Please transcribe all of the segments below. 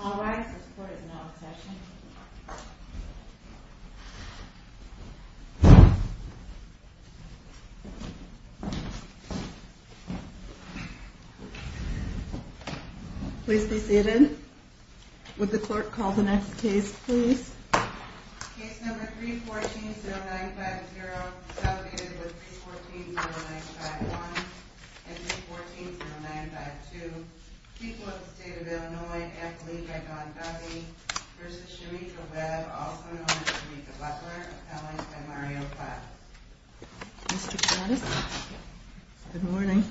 All rise, this court is now in session. Please be seated. Would the court call the next case please? Case number 314-0950, consolidated with 314-0951 and 314-0952. People of the State of Illinois, an athlete by Don Duffy v. Sherita Webb, also known as Sherita Butler, appellate by Mario Platt. Mr. Platt, good morning.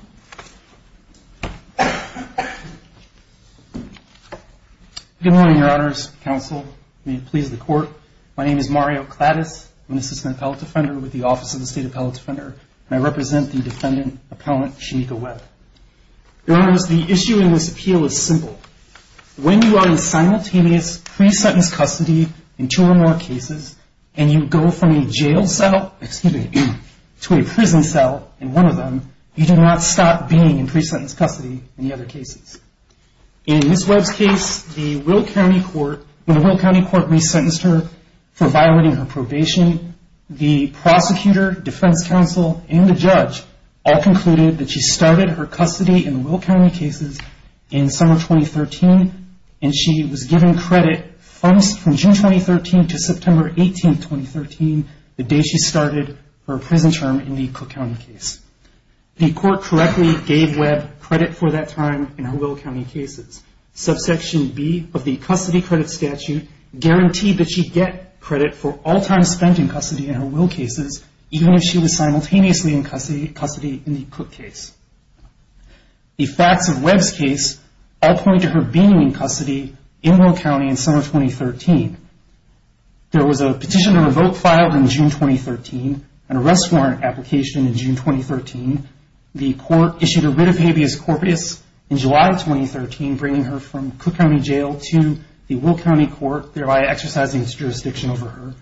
Good morning, your honors, counsel, may it please the court. My name is Mario Clattis. I'm an assistant appellate defender with the Office of the State Appellate Defender, and I represent the defendant, appellant Sherita Webb. Your honors, the issue in this appeal is simple. When you are in simultaneous pre-sentence custody in two or more cases and you go from a jail cell, excuse me, to a prison cell in one of them, you do not stop being in pre-sentence custody in the other cases. In Ms. Webb's case, the Will County Court, when the Will County Court resentenced her for violating her probation, the prosecutor, defense counsel, and the judge all concluded that she started her custody in Will County cases in summer 2013, and she was given credit from June 2013 to September 18, 2013, the day she started her prison term in the Cook County case. The court correctly gave Webb credit for that time in her Will County cases. Subsection B of the custody credit statute guaranteed that she'd get credit for all time spent in custody in her Will cases, even if she was simultaneously in custody in the Cook case. The facts of Webb's case all point to her being in custody in Will County in summer 2013. There was a petition to revoke filed in June 2013, an arrest warrant application in June 2013. The court issued a writ of habeas corpus in July 2013, bringing her from Cook County Jail to the Will County Court, thereby exercising its jurisdiction over her.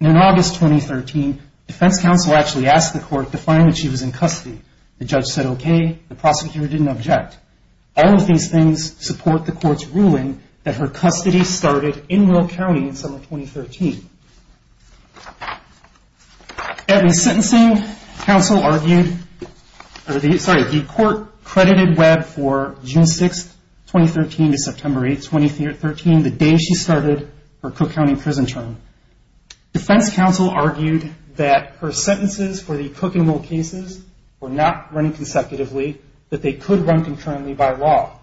In August 2013, defense counsel actually asked the court to find that she was in custody. The judge said okay. The prosecutor didn't object. All of these things support the court's ruling that her custody started in Will County in summer 2013. In sentencing, the court credited Webb for June 6, 2013 to September 8, 2013, the day she started her Cook County prison term. Defense counsel argued that her sentences for the Cook and Will cases were not running consecutively, that they could run concurrently by law,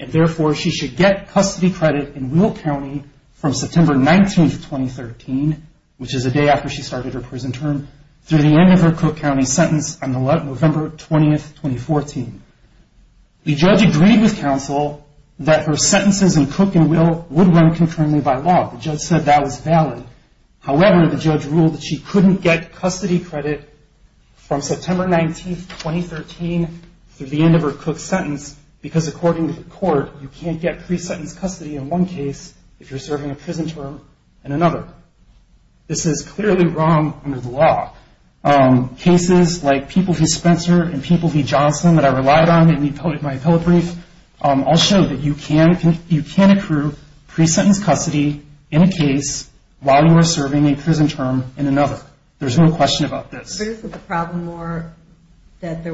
and therefore she should get custody credit in Will County from September 19, 2013, which is the day after she started her prison term, through the end of her Cook County sentence on November 20, 2014. The judge agreed with counsel that her sentences in Cook and Will would run concurrently by law. The judge said that was valid. However, the judge ruled that she couldn't get custody credit from September 19, 2013, through the end of her Cook sentence because, according to the court, you can't get pre-sentence custody in one case if you're serving a prison term in another. This is clearly wrong under the law. Cases like People v. Spencer and People v. Johnson that I relied on in my appellate brief I'll show that you can accrue pre-sentence custody in a case while you are serving a prison term in another. There's no question about this. But isn't the problem more that the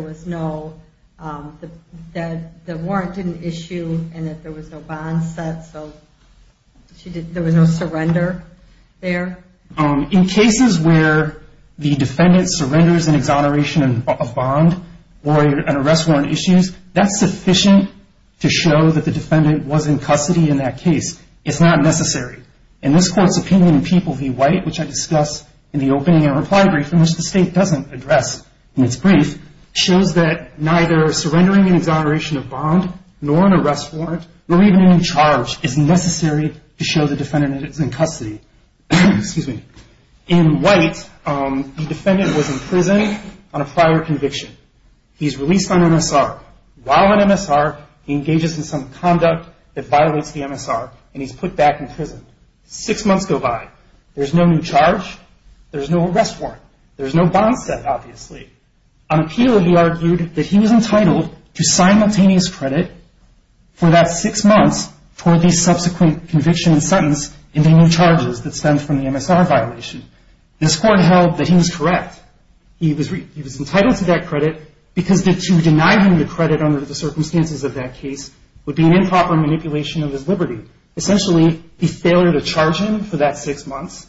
warrant didn't issue and that there was no bond set, so there was no surrender there? In cases where the defendant surrenders an exoneration of bond or an arrest warrant issue, that's sufficient to show that the defendant was in custody in that case. It's not necessary. And this Court's opinion in People v. White, which I discussed in the opening and reply brief in which the State doesn't address in its brief, shows that neither surrendering an exoneration of bond nor an arrest warrant nor even any charge is necessary to show the defendant is in custody. In White, the defendant was in prison on a prior conviction. He's released on MSR. While on MSR, he engages in some conduct that violates the MSR, and he's put back in prison. Six months go by. There's no new charge. There's no arrest warrant. There's no bond set, obviously. On appeal, he argued that he was entitled to simultaneous credit for that six months for the subsequent conviction and sentence and the new charges that stem from the MSR violation. This Court held that he was correct. He was entitled to that credit because to deny him the credit under the circumstances of that case would be an improper manipulation of his liberty. Essentially, the failure to charge him for that six months,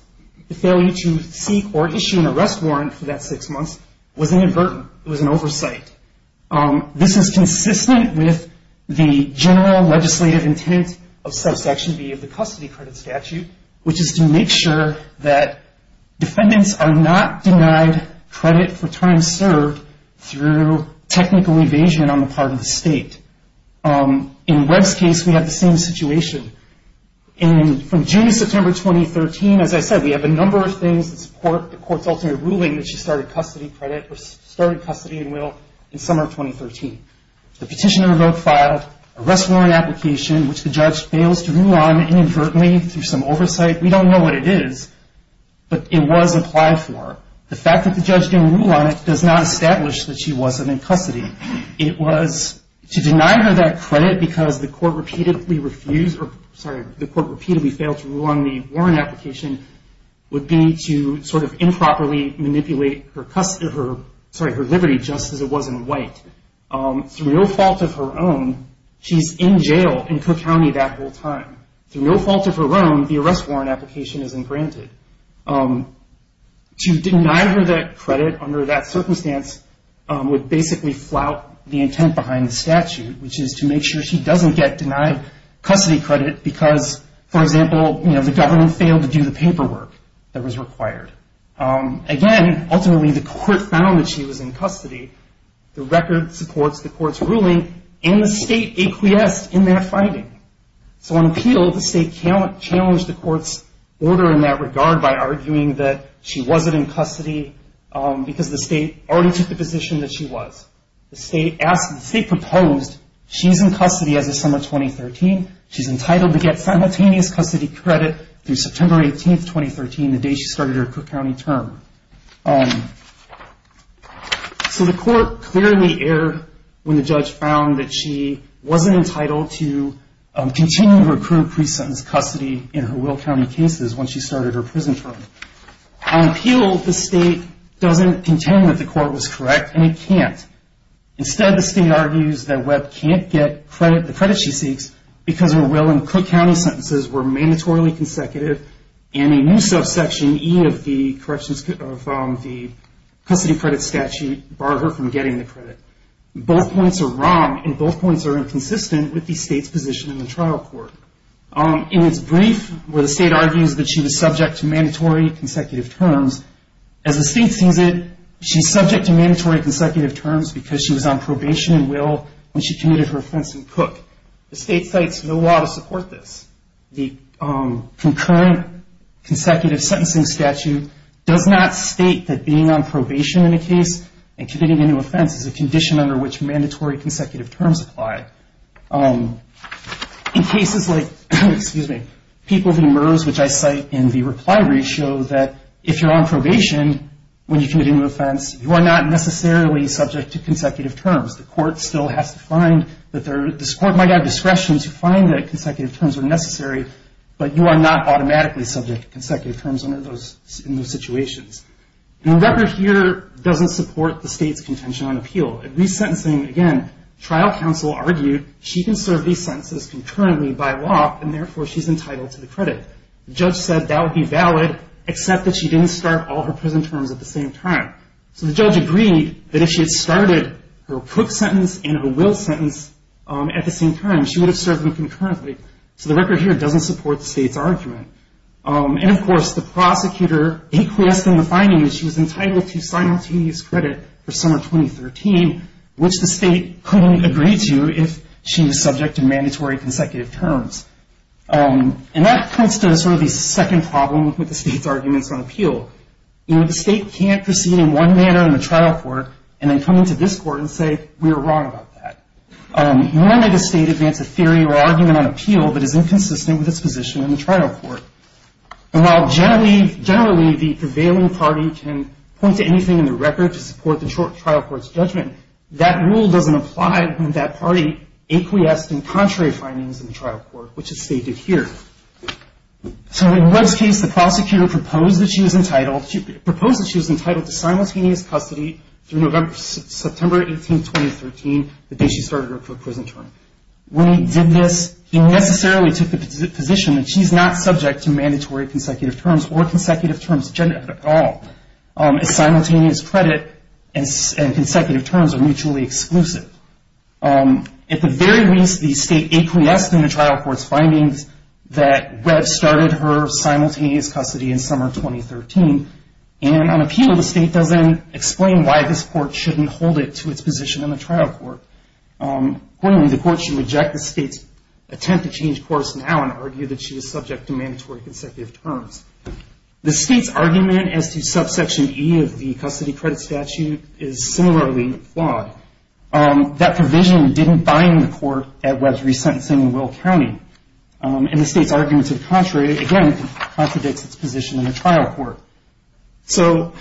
the failure to seek or issue an arrest warrant for that six months was inadvertent. It was an oversight. This is consistent with the general legislative intent of subsection B of the custody credit statute, which is to make sure that defendants are not denied credit for time served through technical evasion on the part of the state. In Webb's case, we have the same situation. From June to September 2013, as I said, we have a number of things that support the Court's ultimate ruling that she started custody credit or started custody in will in summer of 2013. The petitioner remote file, arrest warrant application, which the judge fails to rule on inadvertently through some oversight. We don't know what it is, but it was applied for. The fact that the judge didn't rule on it does not establish that she wasn't in custody. It was to deny her that credit because the Court repeatedly refused or, sorry, the Court repeatedly failed to rule on the warrant application, would be to sort of improperly manipulate her liberty just as it was in White. Through no fault of her own, she's in jail in Cook County that whole time. Through no fault of her own, the arrest warrant application isn't granted. To deny her that credit under that circumstance would basically flout the intent behind the statute, which is to make sure she doesn't get denied custody credit because, for example, the government failed to do the paperwork that was required. Again, ultimately, the Court found that she was in custody. The record supports the Court's ruling, and the State acquiesced in that finding. So on appeal, the State challenged the Court's order in that regard by arguing that she wasn't in custody because the State already took the position that she was. The State proposed she's in custody as of summer 2013. She's entitled to get simultaneous custody credit through September 18, 2013, the day she started her Cook County term. So the Court cleared the air when the Judge found that she wasn't entitled to continue to recruit pre-sentenced custody in her Will County cases when she started her prison term. On appeal, the State doesn't contend that the Court was correct, and it can't. Instead, the State argues that Webb can't get the credit she seeks because her Will and Cook County sentences were mandatorily consecutive, and a new subsection E of the Custody Credit Statute barred her from getting the credit. Both points are wrong, and both points are inconsistent with the State's position in the trial court. In its brief, where the State argues that she was subject to mandatory consecutive terms, as the State sees it, she's subject to mandatory consecutive terms because she was on probation in Will when she committed her offense in Cook. The State cites no law to support this. The concurrent consecutive sentencing statute does not state that being on probation in a case and committing a new offense is a condition under which mandatory consecutive terms apply. In cases like People v. MERS, which I cite in the reply ratio, that if you're on probation when you commit a new offense, you are not necessarily subject to consecutive terms. The court still has to find that this court might have discretion to find that consecutive terms are necessary, but you are not automatically subject to consecutive terms in those situations. The record here doesn't support the State's contention on appeal. In resentencing, again, trial counsel argued she can serve these sentences concurrently by law, and therefore she's entitled to the credit. The judge said that would be valid, except that she didn't start all her prison terms at the same time. So the judge agreed that if she had started her Cook sentence and her Will sentence at the same time, she would have served them concurrently. So the record here doesn't support the State's argument. And, of course, the prosecutor acquiesced in the finding that she was entitled to simultaneous credit for summer 2013, which the State couldn't agree to if she was subject to mandatory consecutive terms. And that comes to sort of the second problem with the State's arguments on appeal. You know, the State can't proceed in one manner in the trial court and then come into this court and say, we were wrong about that. Nor may the State advance a theory or argument on appeal that is inconsistent with its position in the trial court. And while generally the prevailing party can point to anything in the record to support the trial court's judgment, that rule doesn't apply when that party acquiesced in contrary findings in the trial court, which is stated here. So in Webb's case, the prosecutor proposed that she was entitled to simultaneous custody through September 18, 2013, the day she started her Cook prison term. When he did this, he necessarily took the position that she's not subject to mandatory consecutive terms or consecutive terms generally at all. A simultaneous credit and consecutive terms are mutually exclusive. At the very least, the State acquiesced in the trial court's findings that Webb started her simultaneous custody in summer 2013. And on appeal, the State doesn't explain why this court shouldn't hold it to its position in the trial court. Accordingly, the court should reject the State's attempt to change course now and argue that she is subject to mandatory consecutive terms. The State's argument as to subsection E of the custody credit statute is similarly flawed. That provision didn't bind the court at Webb's resentencing in Will County. And the State's argument to the contrary, again, contradicts its position in the trial court. So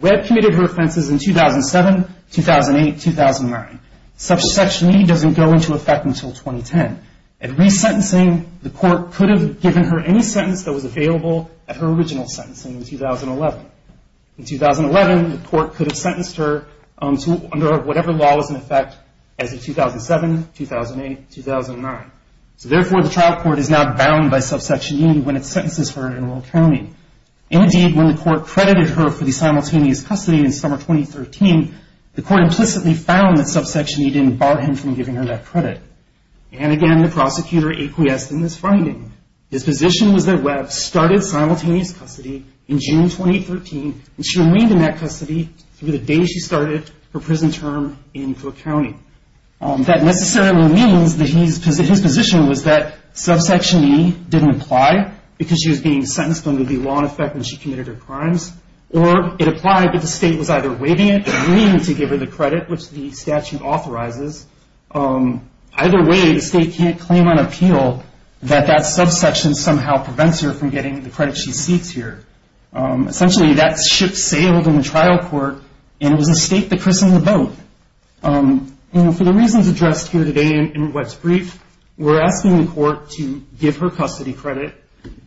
Webb committed her offenses in 2007, 2008, 2009. Subsection E doesn't go into effect until 2010. At resentencing, the court could have given her any sentence that was available at her original sentencing in 2011. In 2011, the court could have sentenced her under whatever law was in effect as of 2007, 2008, 2009. So therefore, the trial court is now bound by subsection E when it sentences her in Will County. Indeed, when the court credited her for the simultaneous custody in summer 2013, the court implicitly found that subsection E didn't bar him from giving her that credit. And again, the prosecutor acquiesced in this finding. His position was that Webb started simultaneous custody in June 2013, and she remained in that custody through the day she started her prison term in Cook County. That necessarily means that his position was that subsection E didn't apply because she was being sentenced under the law in effect when she committed her crimes, or it applied because the State was either waiving it or meaning to give her the credit, which the statute authorizes. Either way, the State can't claim on appeal that that subsection somehow prevents her from getting the credit she seeks here. Essentially, that ship sailed in the trial court, and it was the State that christened the boat. And for the reasons addressed here today in Webb's brief, we're asking the court to give her custody credit,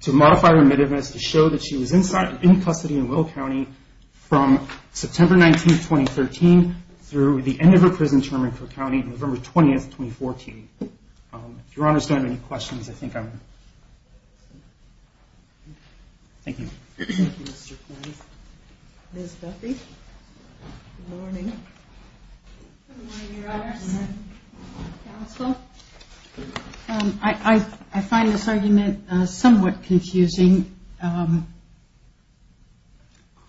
to modify remittance, to show that she was in custody in Will County from September 19, 2013, through the end of her prison term in Cook County, November 20, 2014. If Your Honors don't have any questions, I think I'm... Thank you. Ms. Duffy? Good morning. Good morning, Your Honors. Counsel? I find this argument somewhat confusing. The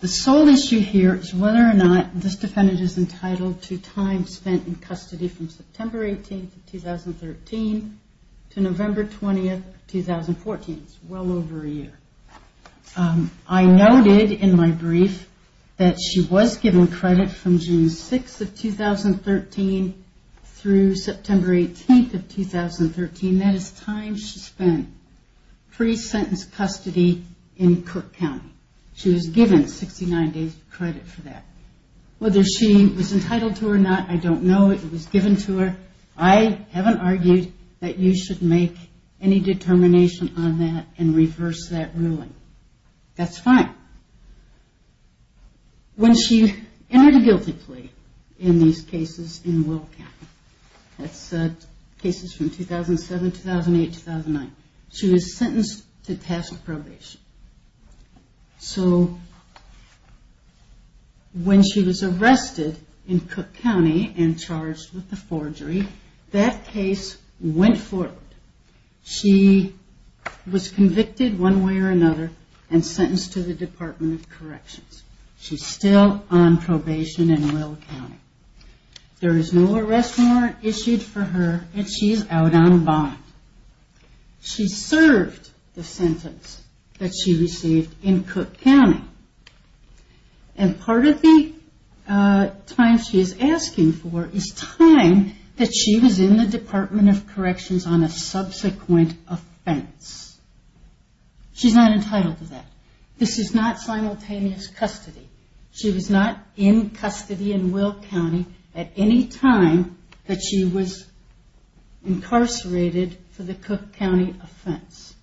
sole issue here is whether or not this defendant is entitled to time spent in custody from September 18, 2013, to November 20, 2014. It's well over a year. I noted in my brief that she was given credit from June 6 of 2013 through September 18 of 2013. That is time she spent pre-sentence custody in Cook County. She was given 69 days of credit for that. Whether she was entitled to it or not, I don't know. It was given to her. I haven't argued that you should make any determination on that and reverse that ruling. That's fine. When she entered a guilty plea in these cases in Will County, that's cases from 2007, 2008, 2009, she was sentenced to task probation. So when she was arrested in Cook County and charged with the forgery, that case went forward. She was convicted one way or another and sentenced to the Department of Corrections. She's still on probation in Will County. There is no arrest warrant issued for her, and she's out on bond. She served the sentence that she received in Cook County. And part of the time she is asking for is time that she was in the Department of Corrections on a subsequent offense. She's not entitled to that. This is not simultaneous custody. She was not in custody in Will County at any time that she was incarcerated for the Cook County offense.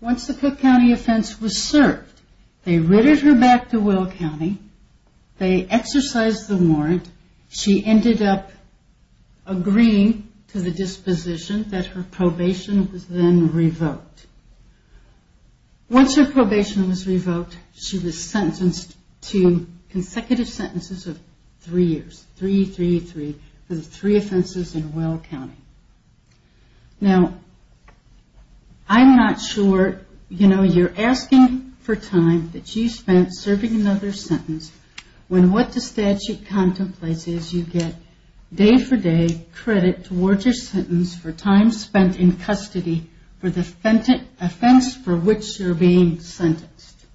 Once the Cook County offense was served, they ridded her back to Will County. They exercised the warrant. She ended up agreeing to the disposition that her probation was then revoked. Once her probation was revoked, she was sentenced to consecutive sentences of three years. Three, three, three, for the three offenses in Will County. Now, I'm not sure, you know, you're asking for time that she spent serving another sentence when what the statute contemplates is you get day-for-day credit towards your sentence for time spent in custody for the offense for which you're being sentenced.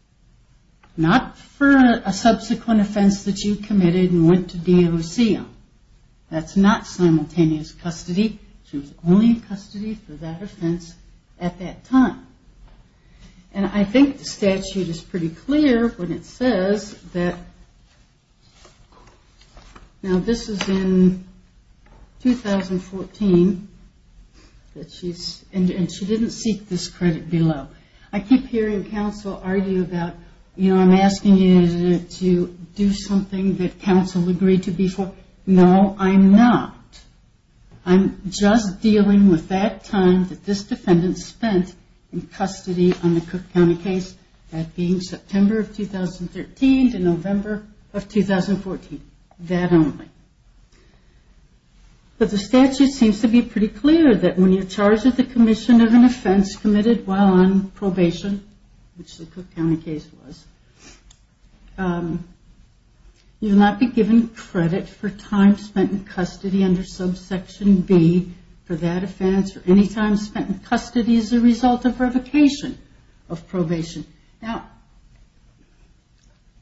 Not for a subsequent offense that you committed and went to DOC on. That's not simultaneous custody. She was only in custody for that offense at that time. And I think the statute is pretty clear when it says that, Now, this is in 2014, and she didn't seek this credit below. I keep hearing counsel argue about, you know, I'm asking you to do something that counsel agreed to before. No, I'm not. I'm just dealing with that time that this defendant spent in custody on the Cook County case. That being September of 2013 to November of 2014. That only. But the statute seems to be pretty clear that when you're charged with the commission of an offense committed while on probation, which the Cook County case was, you will not be given credit for time spent in custody under subsection B for that offense or any time spent in custody as a result of revocation of probation. Now,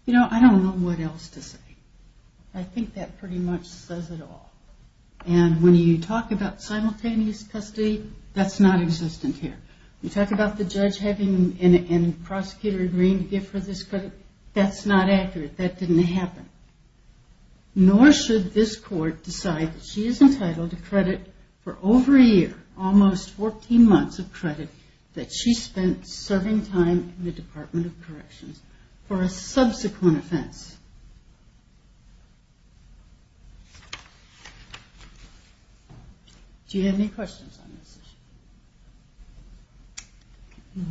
you know, I don't know what else to say. I think that pretty much says it all. And when you talk about simultaneous custody, that's not existent here. You talk about the judge having and prosecutor agreeing to give her this credit, that's not accurate. That didn't happen. Nor should this court decide that she is entitled to credit for over a year, almost 14 months of credit, that she spent serving time in the Department of Corrections for a subsequent offense. Do you have any questions on this issue?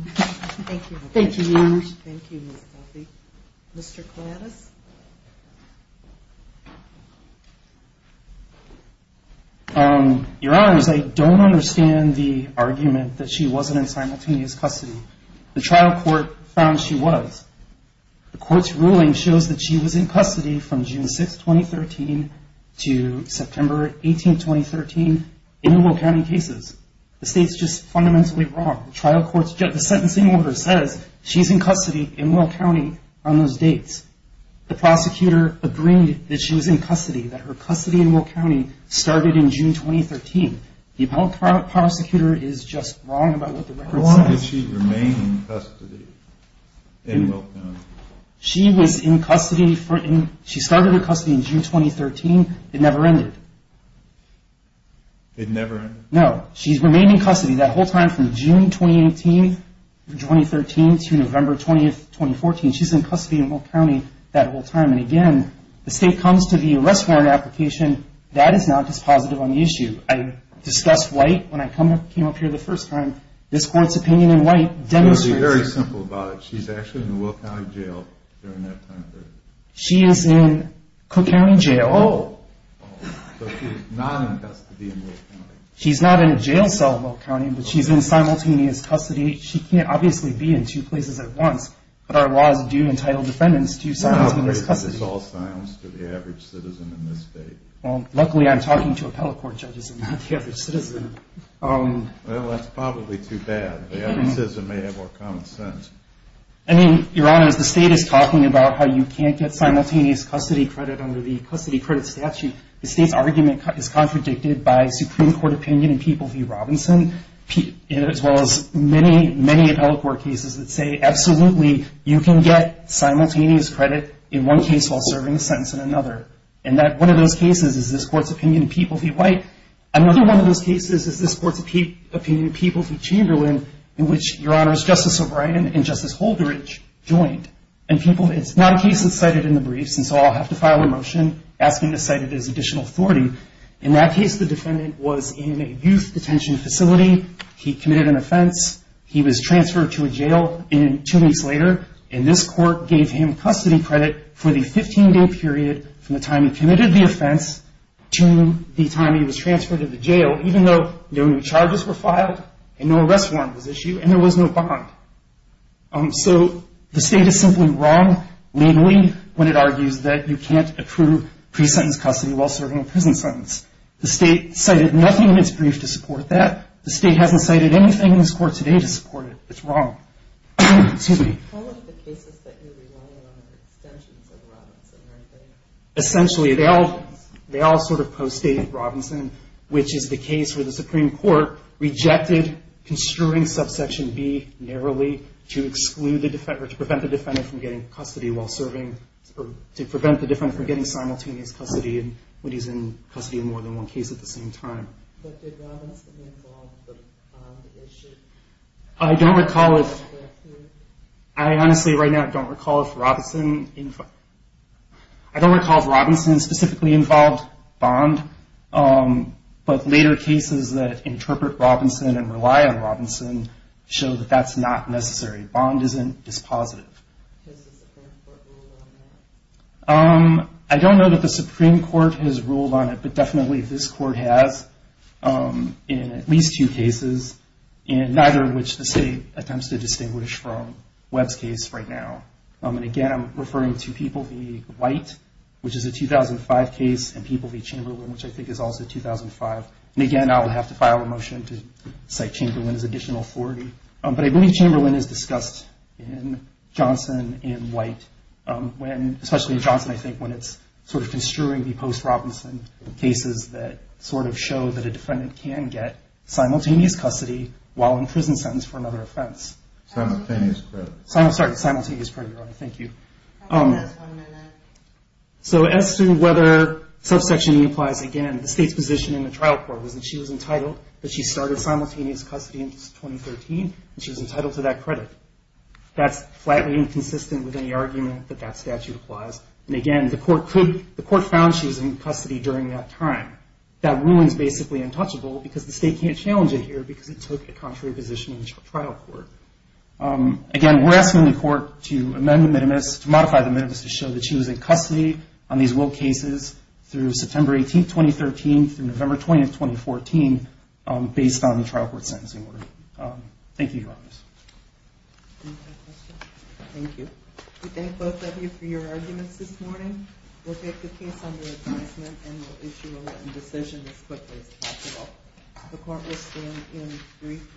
Thank you. Thank you, Your Honor. Thank you, Ms. Coffey. Mr. Kouadas? Your Honors, I don't understand the argument that she wasn't in simultaneous custody. The trial court found she was. The court's ruling shows that she was in custody from June 6, 2013 to September 18, 2013 in Will County cases. The state's just fundamentally wrong. The sentencing order says she's in custody in Will County on those dates. The prosecutor agreed that she was in custody, that her custody in Will County started in June 2013. The appellate prosecutor is just wrong about what the record says. How long did she remain in custody in Will County? She was in custody for – she started her custody in June 2013. It never ended. It never ended? No. She's remained in custody that whole time from June 2018, 2013 to November 20, 2014. She's in custody in Will County that whole time. And again, the state comes to the arrest warrant application. That is not dispositive on the issue. I discussed White when I came up here the first time. This court's opinion in White demonstrates – It's going to be very simple about it. She's actually in Will County Jail during that time period. She is in Cook County Jail. Oh. So she's not in custody in Will County? She's not in a jail cell in Will County, but she's in simultaneous custody. She can't obviously be in two places at once, but our law is due entitled defendants to simultaneous custody. So this is all silence to the average citizen in this state? Well, luckily I'm talking to appellate court judges and not the average citizen. Well, that's probably too bad. The average citizen may have more common sense. I mean, Your Honor, as the state is talking about how you can't get simultaneous custody credit under the custody credit statute, the state's argument is contradicted by Supreme Court opinion in People v. Robinson as well as many, many appellate court cases that say, absolutely, you can get simultaneous credit in one case while serving a sentence in another. And one of those cases is this court's opinion in People v. White. Another one of those cases is this court's opinion in People v. Chamberlain, in which, Your Honors, Justice O'Brien and Justice Holderidge joined. And it's not a case that's cited in the briefs, and so I'll have to file a motion asking to cite it as additional authority. In that case, the defendant was in a youth detention facility. He committed an offense. He was transferred to a jail two weeks later, and this court gave him custody credit for the 15-day period from the time he committed the offense to the time he was transferred to the jail, even though no new charges were filed and no arrest warrant was issued and there was no bond. So the state is simply wrong, mainly when it argues that you can't approve pre-sentence custody while serving a prison sentence. The state cited nothing in its brief to support that. The state hasn't cited anything in this court today to support it. It's wrong. Excuse me. Essentially, they all sort of post-stated Robinson, which is the case where the Supreme Court rejected construing subsection B narrowly to exclude the defendant or to prevent the defendant from getting custody while serving, to prevent the defendant from getting simultaneous custody when he's in custody in more than one case at the same time. But did Robinson involve the bond issue? I don't recall if... I honestly right now don't recall if Robinson... I don't recall if Robinson specifically involved bond, but later cases that interpret Robinson and rely on Robinson show that that's not necessary. Bond isn't dispositive. I don't know that the Supreme Court has ruled on it, but definitely this court has in at least two cases, neither of which the state attempts to distinguish from Webb's case right now. Again, I'm referring to People v. White, which is a 2005 case, and People v. Chamberlain, which I think is also 2005. Again, I'll have to file a motion to cite Chamberlain as additional authority. But I believe Chamberlain is discussed in Johnson and White, especially in Johnson, I think, when it's sort of construing the post-Robinson cases that sort of show that a defendant can get simultaneous custody while in prison sentence for another offense. Simultaneous credit. Sorry, simultaneous credit. Thank you. So as to whether subsection E applies, again, the state's position in the trial court was that she was entitled, that she started simultaneous custody in 2013, and she was entitled to that credit. That's flatly inconsistent with any argument that that statute applies. And again, the court found she was in custody during that time. That ruling is basically untouchable because the state can't challenge it here because it took a contrary position in the trial court. Again, we're asking the court to amend the minimus, to modify the minimus to show that she was in custody on these Will cases through September 18, 2013, through November 20, 2014, based on the trial court sentencing order. Thank you, Your Honors. Thank you. We thank both of you for your arguments this morning. We'll take the case under advisement and we'll issue a written decision as quickly as possible. The court will stand in brief recess for a panel hearing.